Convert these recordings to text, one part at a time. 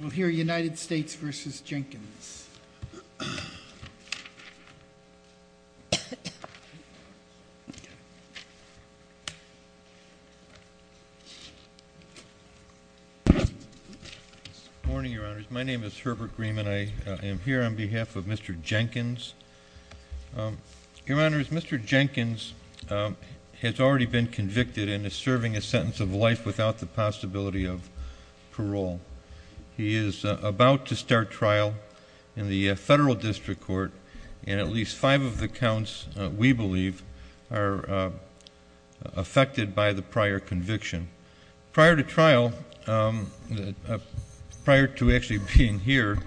We'll hear United States v. Jenkins. Good morning, Your Honors. My name is Herbert Grieman. I am here on behalf of Mr. Jenkins. Your Honors, Mr. Jenkins has already been convicted and is serving a sentence of life without the possibility of parole. He is about to start trial in the Federal District Court, and at least five of the counts, we believe, are affected by the prior conviction. Prior to trial, prior to actually being here,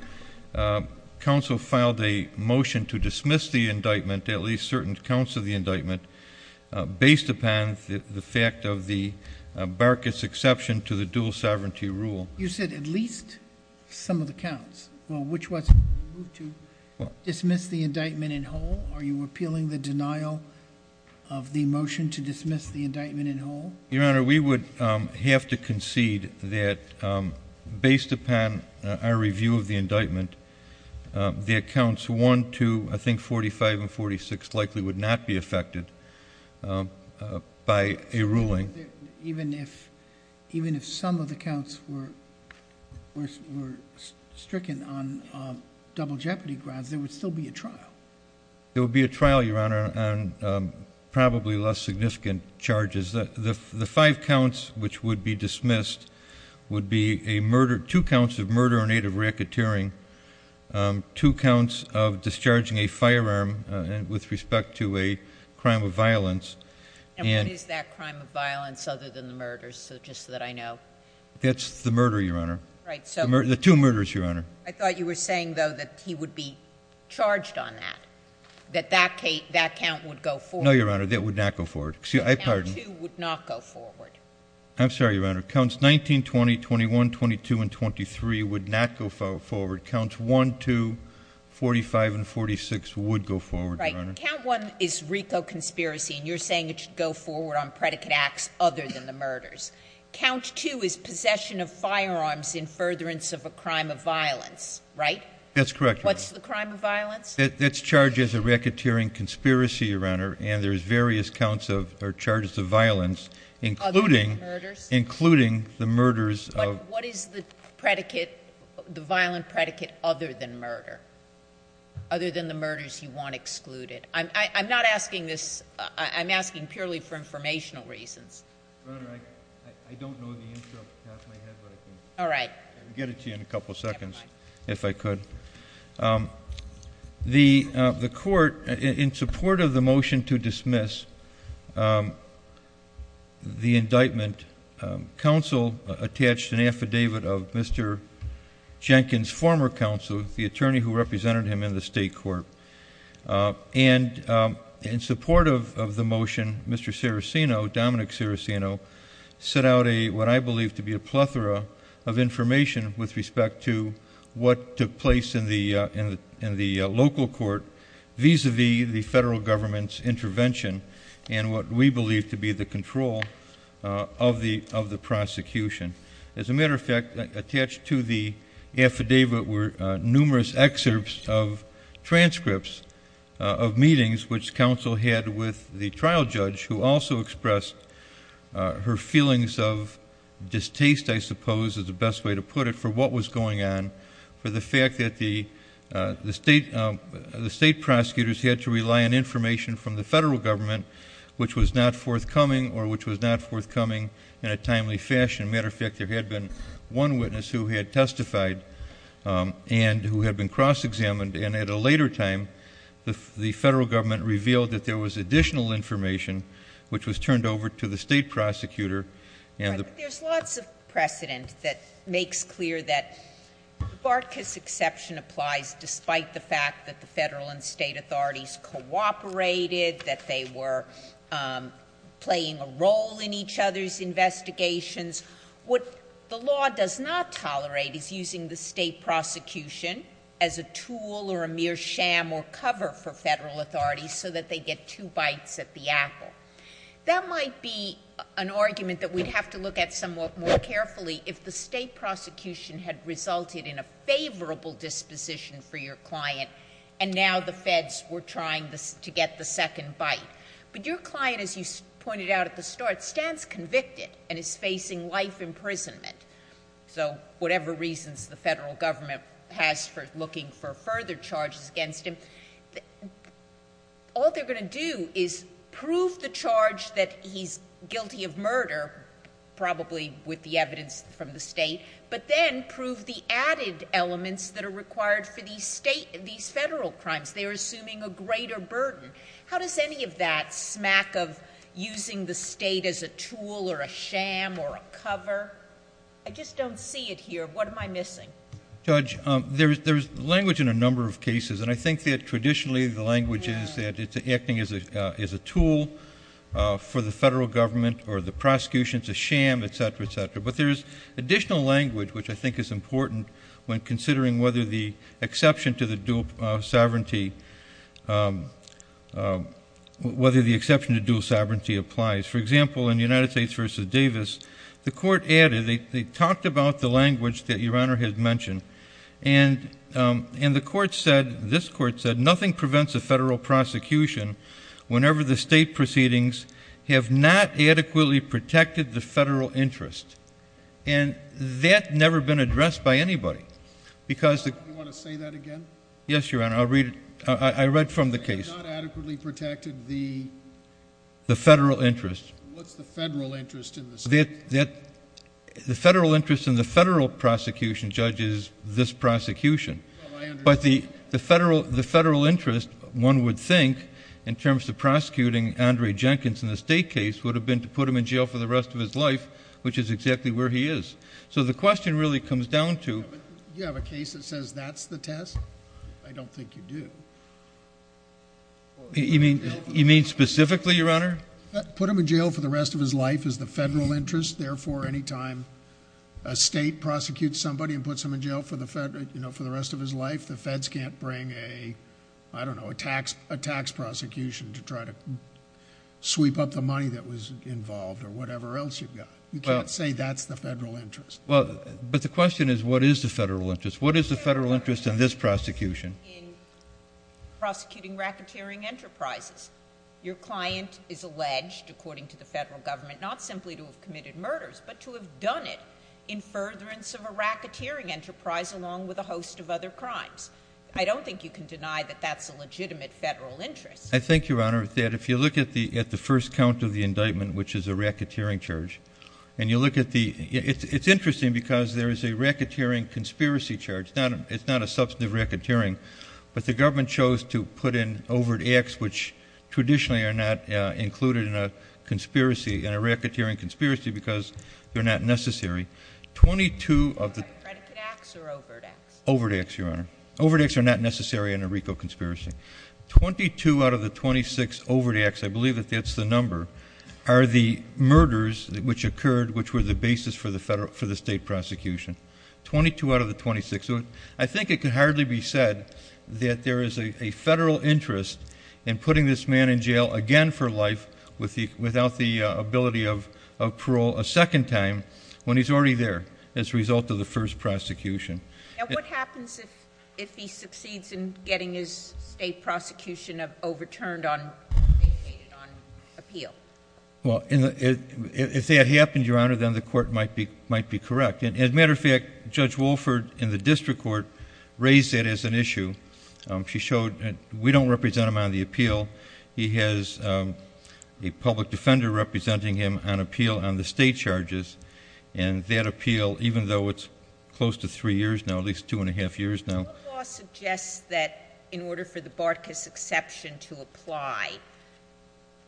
counsel filed a motion to dismiss the indictment, at least certain counts of the indictment, based upon the fact of the Barca's exception to the dual sovereignty rule. You said at least some of the counts. Well, which ones did you move to? Dismiss the indictment in whole? Are you appealing the denial of the motion to dismiss the indictment in whole? Your Honor, we would have to concede that, based upon our review of the indictment, the accounts 1, 2, I think 45 and 46 likely would not be affected by a ruling. Even if some of the counts were stricken on double jeopardy grounds, there would still be a trial? There would be a trial, Your Honor, on probably less significant charges. The five counts which would be dismissed would be two counts of murder in aid of racketeering, two counts of discharging a firearm with respect to a crime of violence. And what is that crime of violence other than the murders, just so that I know? That's the murder, Your Honor. The two murders, Your Honor. I thought you were saying, though, that he would be charged on that, that that count would go forward. No, Your Honor, that would not go forward. Count 2 would not go forward. I'm sorry, Your Honor. Counts 19, 20, 21, 22, and 23 would not go forward. Counts 1, 2, 45, and 46 would go forward, Your Honor. Right. Count 1 is RICO conspiracy, and you're saying it should go forward on predicate acts other than the murders. Count 2 is possession of firearms in furtherance of a crime of violence, right? That's correct, Your Honor. What's the crime of violence? That's charged as a racketeering conspiracy, Your Honor, and there's various counts of or charges of violence, including the murders of— But what is the predicate, the violent predicate, other than murder, other than the murders you want excluded? I'm not asking this—I'm asking purely for informational reasons. Your Honor, I don't know the answer off the top of my head, but I can get it to you in a couple seconds if I could. The court, in support of the motion to dismiss the indictment, counsel attached an affidavit of Mr. Jenkins, former counsel, the attorney who represented him in the state court, and in support of the motion, Mr. Ciricino, Dominic Ciricino, sent out what I believe to be a plethora of information with respect to what took place in the local court vis-a-vis the federal government's intervention and what we believe to be the control of the prosecution. As a matter of fact, attached to the affidavit were numerous excerpts of transcripts of meetings, which counsel had with the trial judge, who also expressed her feelings of distaste, I suppose is the best way to put it, for what was going on, for the fact that the state prosecutors had to rely on information from the federal government, which was not forthcoming or which was not forthcoming in a timely fashion. As a matter of fact, there had been one witness who had testified and who had been cross-examined, and at a later time, the federal government revealed that there was additional information, which was turned over to the state prosecutor. There's lots of precedent that makes clear that the Bartkes exception applies, despite the fact that the federal and state authorities cooperated, that they were playing a role in each other's investigations. What the law does not tolerate is using the state prosecution as a tool or a mere sham or cover for federal authorities so that they get two bites at the apple. That might be an argument that we'd have to look at somewhat more carefully if the state prosecution had resulted in a favorable disposition for your client and now the feds were trying to get the second bite. But your client, as you pointed out at the start, stands convicted and is facing life imprisonment. So whatever reasons the federal government has for looking for further charges against him, all they're going to do is prove the charge that he's guilty of murder, probably with the evidence from the state, but then prove the added elements that are required for these federal crimes. They're assuming a greater burden. How does any of that smack of using the state as a tool or a sham or a cover? I just don't see it here. What am I missing? Judge, there's language in a number of cases, and I think that traditionally the language is that it's acting as a tool for the federal government or the prosecution is a sham, et cetera, et cetera. But there's additional language, which I think is important, when considering whether the exception to dual sovereignty applies. For example, in the United States v. Davis, the court added, they talked about the language that Your Honor had mentioned, and this court said nothing prevents a federal prosecution whenever the state proceedings have not adequately protected the federal interest. And that had never been addressed by anybody. You want to say that again? Yes, Your Honor. I read from the case. They have not adequately protected the federal interest. What's the federal interest in the state? The federal interest in the federal prosecution, Judge, is this prosecution. Well, I understand. But the federal interest, one would think, in terms of prosecuting Andre Jenkins in the state case would have been to put him in jail for the rest of his life, which is exactly where he is. So the question really comes down to— Do you have a case that says that's the test? I don't think you do. You mean specifically, Your Honor? Put him in jail for the rest of his life is the federal interest. Therefore, any time a state prosecutes somebody and puts them in jail for the rest of his life, the feds can't bring, I don't know, a tax prosecution to try to sweep up the money that was involved or whatever else you've got. You can't say that's the federal interest. But the question is, what is the federal interest? What is the federal interest in this prosecution? In prosecuting racketeering enterprises, your client is alleged, according to the federal government, not simply to have committed murders, but to have done it in furtherance of a racketeering enterprise along with a host of other crimes. I don't think you can deny that that's a legitimate federal interest. I think, Your Honor, that if you look at the first count of the indictment, which is a racketeering charge, and you look at the—it's interesting because there is a racketeering conspiracy charge. It's not a substantive racketeering, but the government chose to put in overt acts which traditionally are not included in a conspiracy, in a racketeering conspiracy, because they're not necessary. Twenty-two of the— Predicate acts or overt acts? Overt acts, Your Honor. Overt acts are not necessary in a RICO conspiracy. Twenty-two out of the 26 overt acts, I believe that that's the number, are the murders which occurred which were the basis for the state prosecution. Twenty-two out of the 26. I think it can hardly be said that there is a federal interest in putting this man in jail again for life without the ability of parole a second time when he's already there as a result of the first prosecution. And what happens if he succeeds in getting his state prosecution overturned on appeal? Well, if that happens, Your Honor, then the court might be correct. As a matter of fact, Judge Wolford in the district court raised that as an issue. She showed that we don't represent him on the appeal. He has a public defender representing him on appeal on the state charges, and that appeal, even though it's close to three years now, at least two and a half years now— What law suggests that in order for the Bartkus exception to apply,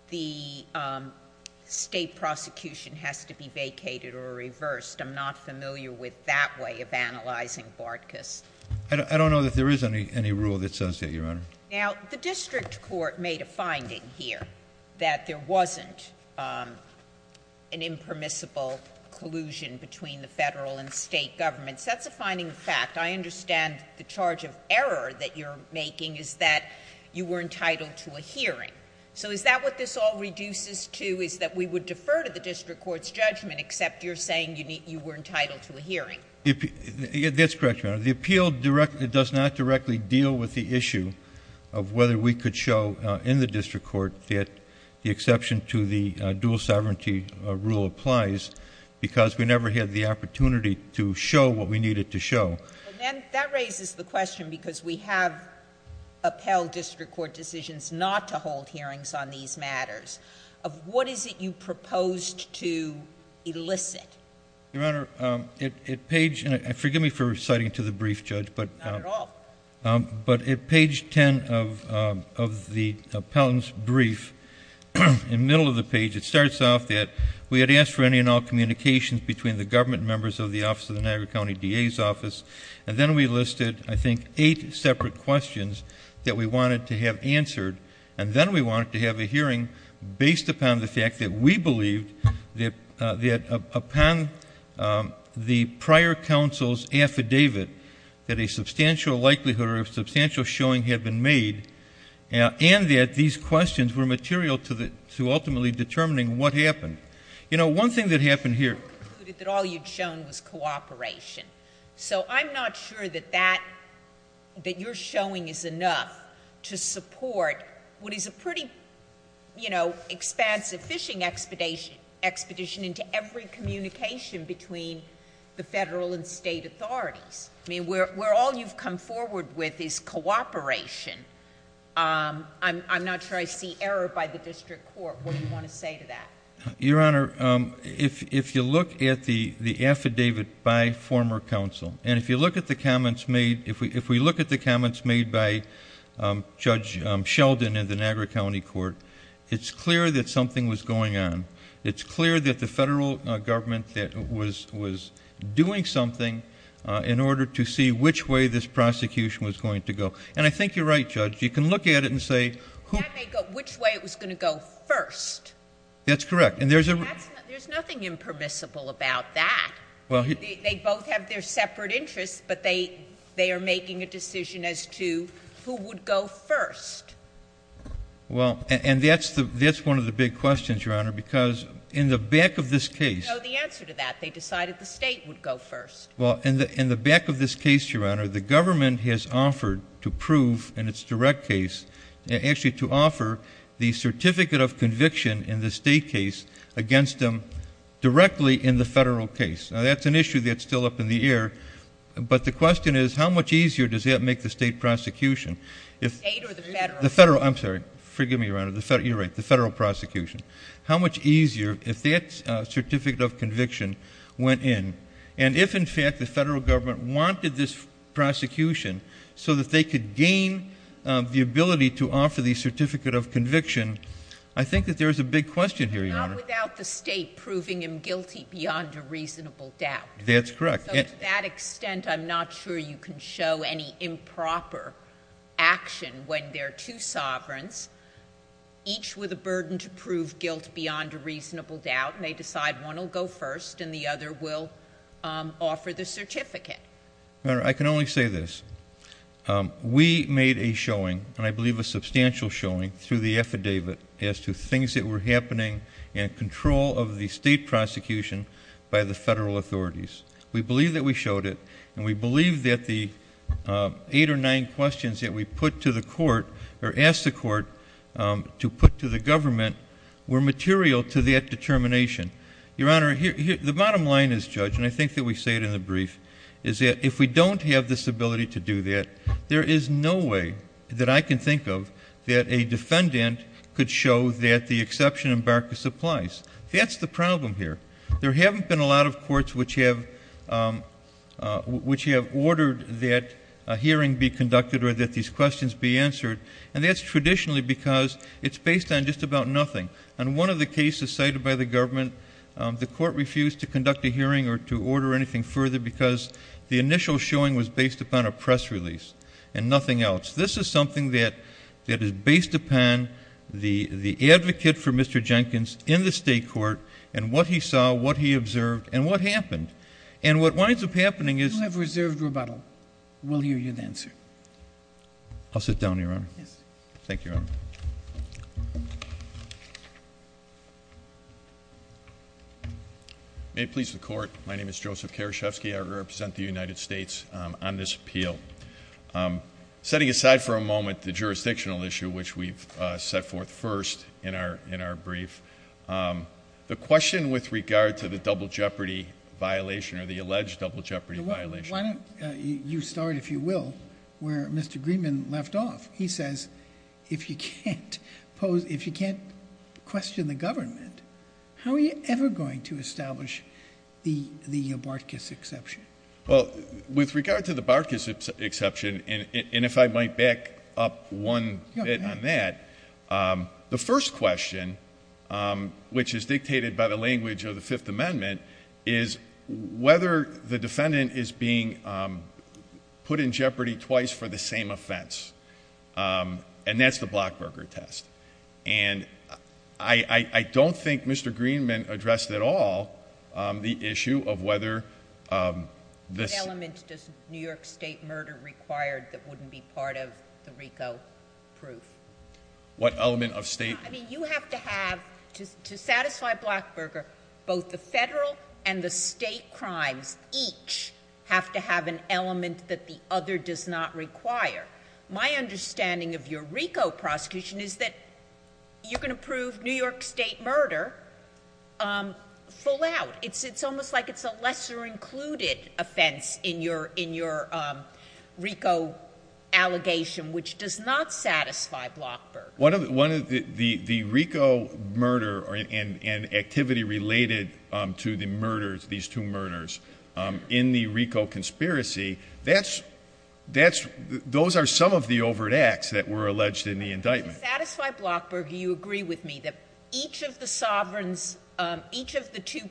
the state prosecution has to be vacated or reversed? I'm not familiar with that way of analyzing Bartkus. I don't know that there is any rule that says that, Your Honor. Now, the district court made a finding here that there wasn't an impermissible collusion between the federal and state governments. That's a finding of fact. I understand the charge of error that you're making is that you were entitled to a hearing. So is that what this all reduces to, is that we would defer to the district court's judgment except you're saying you were entitled to a hearing? That's correct, Your Honor. The appeal does not directly deal with the issue of whether we could show in the district court that the exception to the dual sovereignty rule applies because we never had the opportunity to show what we needed to show. That raises the question, because we have upheld district court decisions not to hold hearings on these matters, of what is it you proposed to elicit? Your Honor, forgive me for reciting to the brief, Judge. Not at all. But at page 10 of the appellant's brief, in the middle of the page, it starts off that we had asked for any and all communications between the government members of the office of the Niagara County DA's office, and then we listed, I think, eight separate questions that we wanted to have answered, and then we wanted to have a hearing based upon the fact that we believed that upon the prior counsel's affidavit that a substantial likelihood or a substantial showing had been made, and that these questions were material to ultimately determining what happened. You know, one thing that happened here. You concluded that all you'd shown was cooperation. So I'm not sure that that, that your showing is enough to support what is a pretty, you know, expansive fishing expedition into every communication between the federal and state authorities. I mean, where all you've come forward with is cooperation. I'm not sure I see error by the district court. What do you want to say to that? Your Honor, if you look at the affidavit by former counsel, and if you look at the comments made, if we look at the comments made by Judge Sheldon in the Niagara County court, it's clear that something was going on. It's clear that the federal government was doing something in order to see which way this prosecution was going to go. And I think you're right, Judge. You can look at it and say. That may go which way it was going to go first. That's correct. There's nothing impermissible about that. They both have their separate interests, but they are making a decision as to who would go first. Well, and that's one of the big questions, Your Honor, because in the back of this case. No, the answer to that. They decided the state would go first. Well, in the back of this case, Your Honor, the government has offered to prove in its direct case, actually to offer the certificate of conviction in the state case against them directly in the federal case. Now, that's an issue that's still up in the air, but the question is, how much easier does that make the state prosecution? The state or the federal? The federal. I'm sorry. Forgive me, Your Honor. You're right. The federal prosecution. How much easier if that certificate of conviction went in, and if, in fact, the federal government wanted this prosecution so that they could gain the ability to offer the certificate of conviction? I think that there is a big question here, Your Honor. Not without the state proving him guilty beyond a reasonable doubt. That's correct. So to that extent, I'm not sure you can show any improper action when there are two sovereigns, each with a burden to prove guilt beyond a reasonable doubt, and they decide one will go first and the other will offer the certificate. Your Honor, I can only say this. We made a showing, and I believe a substantial showing, through the affidavit as to things that were happening in control of the state prosecution by the federal authorities. We believe that we showed it, and we believe that the eight or nine questions that we put to the court or asked the court to put to the government were material to that determination. Your Honor, the bottom line is, Judge, and I think that we say it in the brief, is that if we don't have this ability to do that, there is no way that I can think of that a defendant could show that the exception in Barker's applies. That's the problem here. There haven't been a lot of courts which have ordered that a hearing be conducted or that these questions be answered, and that's traditionally because it's based on just about nothing. On one of the cases cited by the government, the court refused to conduct a hearing or to order anything further because the initial showing was based upon a press release and nothing else. This is something that is based upon the advocate for Mr. Jenkins in the state court and what he saw, what he observed, and what happened. And what winds up happening is- You have reserved rebuttal. We'll hear you then, sir. I'll sit down, Your Honor. Yes. Thank you, Your Honor. May it please the court, my name is Joseph Karaszewski. I represent the United States on this appeal. Setting aside for a moment the jurisdictional issue, which we've set forth first in our brief, the question with regard to the double jeopardy violation or the alleged double jeopardy violation- Why don't you start, if you will, where Mr. Greenman left off? He says if you can't question the government, how are you ever going to establish the Bartkus exception? Well, with regard to the Bartkus exception, and if I might back up one bit on that, the first question, which is dictated by the language of the Fifth Amendment, is whether the defendant is being put in jeopardy twice for the same offense. And that's the Blockburger test. And I don't think Mr. Greenman addressed at all the issue of whether this- what element of state- I mean, you have to have, to satisfy Blockburger, both the federal and the state crimes each have to have an element that the other does not require. My understanding of your RICO prosecution is that you're going to prove New York state murder full out. It's almost like it's a lesser included offense in your RICO allegation, which does not satisfy Blockburger. The RICO murder and activity related to the murders, these two murders, in the RICO conspiracy, those are some of the overt acts that were alleged in the indictment. To satisfy Blockburger, you agree with me that each of the two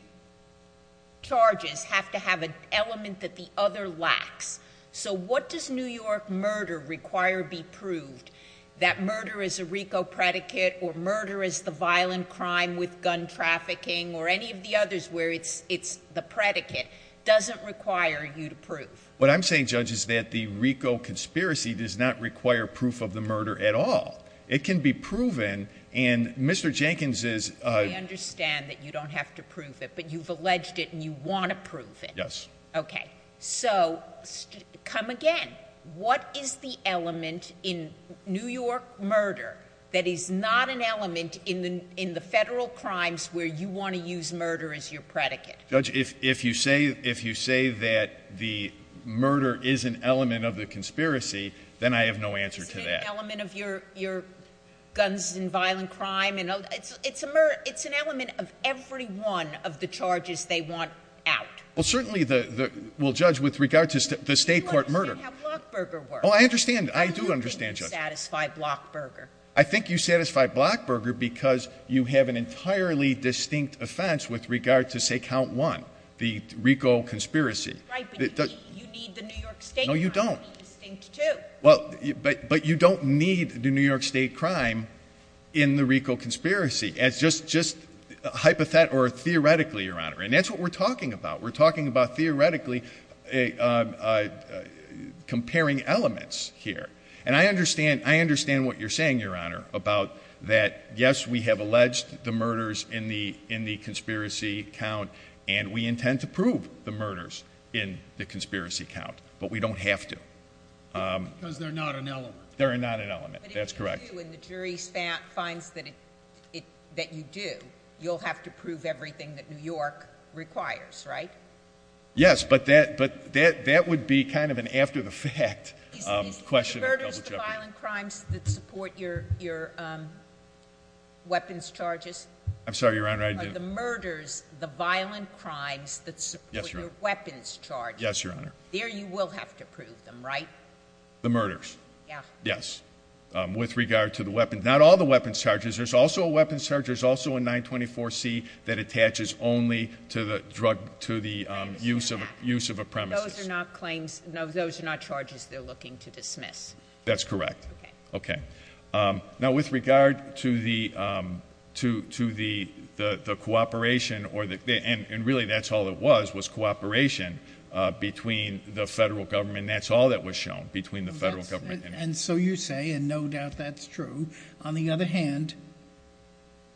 charges have to have an element that the other lacks. So what does New York murder require be proved? That murder is a RICO predicate, or murder is the violent crime with gun trafficking, or any of the others where it's the predicate, doesn't require you to prove. What I'm saying, Judge, is that the RICO conspiracy does not require proof of the murder at all. It can be proven, and Mr. Jenkins is- I understand that you don't have to prove it, but you've alleged it and you want to prove it. Yes. Okay. So, come again. What is the element in New York murder that is not an element in the federal crimes where you want to use murder as your predicate? Judge, if you say that the murder is an element of the conspiracy, then I have no answer to that. Is it an element of your guns and violent crime? It's an element of every one of the charges they want out. Well, certainly the- well, Judge, with regard to the state court murder- Well, I'm saying how Blockburger works. Oh, I understand. I do understand, Judge. How do you think you satisfy Blockburger? I think you satisfy Blockburger because you have an entirely distinct offense with regard to, say, count one, the RICO conspiracy. Right, but you need the New York state crime to be distinct, too. No, you don't. Well, but you don't need the New York state crime in the RICO conspiracy. It's just hypothet- or theoretically, Your Honor, and that's what we're talking about. We're talking about theoretically comparing elements here. And I understand what you're saying, Your Honor, about that, yes, we have alleged the murders in the conspiracy count, and we intend to prove the murders in the conspiracy count, but we don't have to. Because they're not an element. They're not an element. That's correct. But if you do, and the jury finds that you do, you'll have to prove everything that New York requires, right? Yes, but that would be kind of an after-the-fact question. Are the murders the violent crimes that support your weapons charges? I'm sorry, Your Honor, I didn't- Are the murders the violent crimes that support your weapons charges? Yes, Your Honor. There you will have to prove them, right? The murders? Yeah. Yes, with regard to the weapons. Not all the weapons charges. There's also a weapons charge. There's also a 924C that attaches only to the use of a premises. Those are not charges they're looking to dismiss. That's correct. Okay. Okay. Now, with regard to the cooperation, and really that's all it was, was cooperation between the federal government, and that's all that was shown, between the federal government and- And so you say, and no doubt that's true. On the other hand,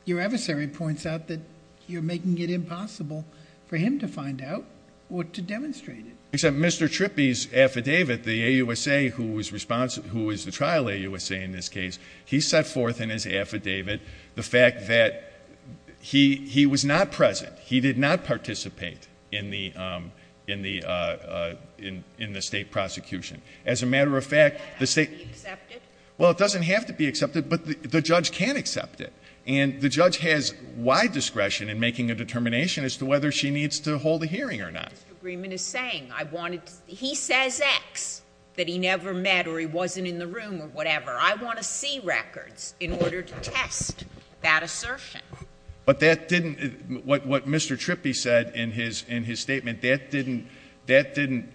your adversary points out that you're making it impossible for him to find out or to demonstrate it. Except Mr. Trippi's affidavit, the AUSA who is the trial AUSA in this case, he set forth in his affidavit the fact that he was not present. He did not participate in the state prosecution. As a matter of fact, the state- Does that have to be accepted? But the judge can accept it. And the judge has wide discretion in making a determination as to whether she needs to hold a hearing or not. Mr. Greenman is saying, he says X, that he never met or he wasn't in the room or whatever. I want to see records in order to test that assertion. But that didn't, what Mr. Trippi said in his statement, that didn't, that didn't,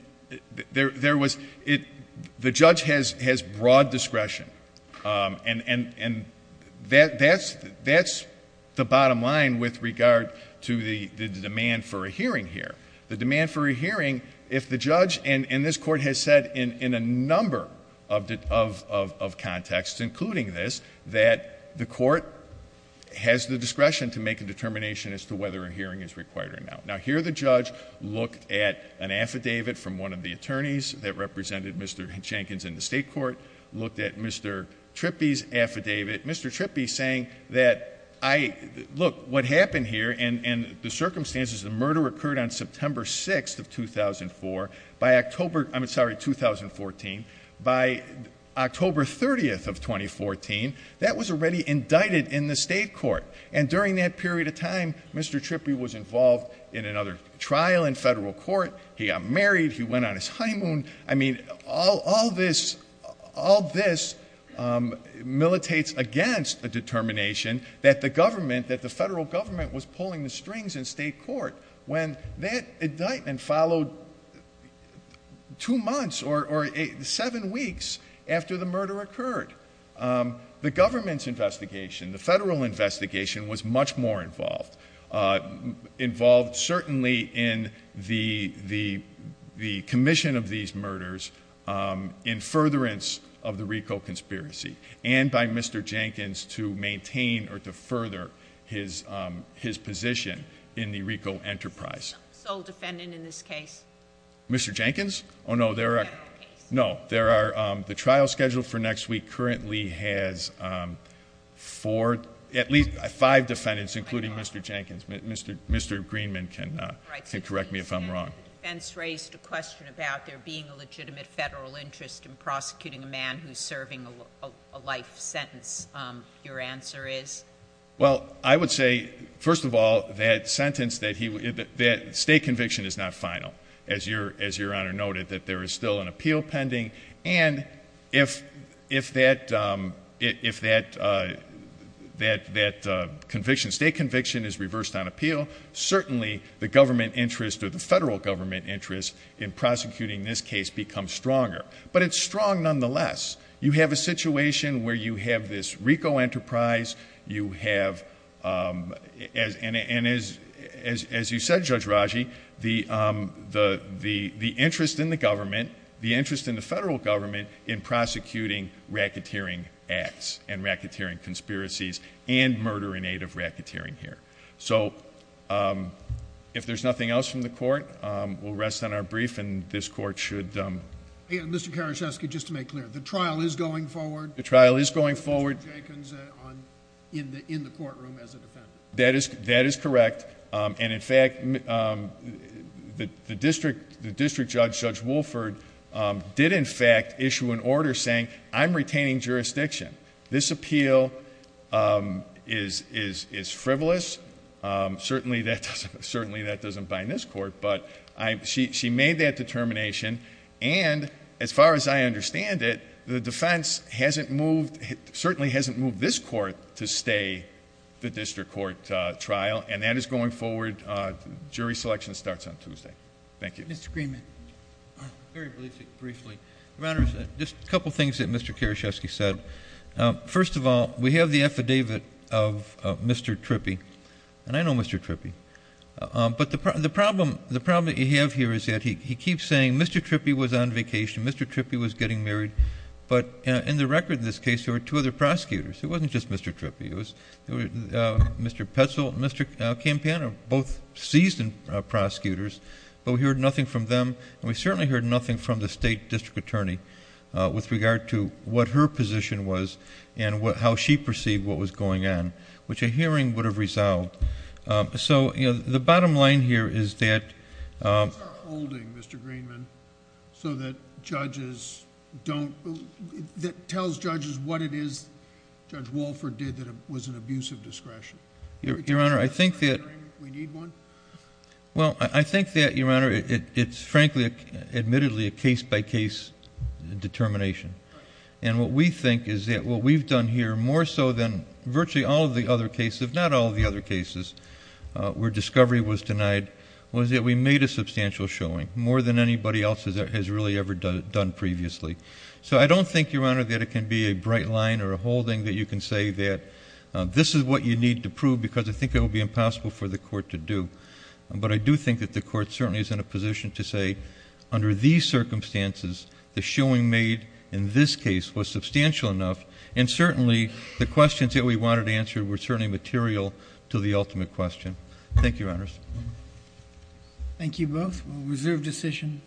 there was, the judge has broad discretion. And that's the bottom line with regard to the demand for a hearing here. The demand for a hearing, if the judge, and this court has said in a number of contexts, including this, that the court has the discretion to make a determination as to whether a hearing is required or not. Now here the judge looked at an affidavit from one of the attorneys that represented Mr. Jenkins in the state court. Looked at Mr. Trippi's affidavit. Mr. Trippi saying that I, look what happened here and the circumstances of murder occurred on September 6th of 2004. By October, I'm sorry, 2014. By October 30th of 2014, that was already indicted in the state court. And during that period of time, Mr. Trippi was involved in another trial in federal court. He got married. He went on his honeymoon. I mean, all this, all this militates against a determination that the government, that the federal government was pulling the strings in state court. When that indictment followed two months or seven weeks after the murder occurred. The government's investigation, the federal investigation was much more involved. Involved certainly in the commission of these murders in furtherance of the RICO conspiracy. And by Mr. Jenkins to maintain or to further his position in the RICO enterprise. Sole defendant in this case. Mr. Jenkins? Oh no, there are. No, there are. The trial scheduled for next week currently has four, at least five defendants, including Mr. Jenkins. Mr. Greenman can correct me if I'm wrong. The defense raised a question about there being a legitimate federal interest in prosecuting a man who's serving a life sentence. Your answer is? Well, I would say, first of all, that sentence, that state conviction is not final. As your Honor noted, that there is still an appeal pending. And if that conviction, state conviction is reversed on appeal, certainly the government interest or the federal government interest in prosecuting this case becomes stronger. But it's strong nonetheless. You have a situation where you have this RICO enterprise. You have, as you said, Judge Raji, the interest in the government, the interest in the federal government, in prosecuting racketeering acts and racketeering conspiracies and murder in aid of racketeering here. So if there's nothing else from the court, we'll rest on our brief and this court should. Mr. Karaszewski, just to make clear, the trial is going forward? The trial is going forward. Judge Jenkins in the courtroom as a defendant. That is correct. And in fact, the district judge, Judge Wolford, did in fact issue an order saying, I'm retaining jurisdiction. This appeal is frivolous. Certainly that doesn't bind this court. But she made that determination. And as far as I understand it, the defense certainly hasn't moved this court to stay the district court trial. And that is going forward. Jury selection starts on Tuesday. Thank you. Mr. Greenman. Very briefly. Your Honor, just a couple things that Mr. Karaszewski said. First of all, we have the affidavit of Mr. Trippi. And I know Mr. Trippi. But the problem that you have here is that he keeps saying Mr. Trippi was on vacation, Mr. Trippi was getting married. But in the record in this case, there were two other prosecutors. It wasn't just Mr. Trippi. It was Mr. Petzel and Mr. Campana, both seasoned prosecutors. But we heard nothing from them. And we certainly heard nothing from the state district attorney with regard to what her position was and how she perceived what was going on. Which a hearing would have resolved. So, you know, the bottom line here is that... What is our holding, Mr. Greenman, so that judges don't... that tells judges what it is Judge Walford did that was an abuse of discretion? Your Honor, I think that... We need one? Well, I think that, Your Honor, it's frankly admittedly a case-by-case determination. And what we think is that what we've done here, more so than virtually all of the other cases, if not all of the other cases where discovery was denied, was that we made a substantial showing, more than anybody else has really ever done previously. So I don't think, Your Honor, that it can be a bright line or a holding that you can say that this is what you need to prove, because I think it would be impossible for the court to do. But I do think that the court certainly is in a position to say, under these circumstances, the showing made in this case was substantial enough, and certainly the questions that we wanted answered were certainly material to the ultimate question. Thank you, Your Honors. Thank you both. Reserve decision.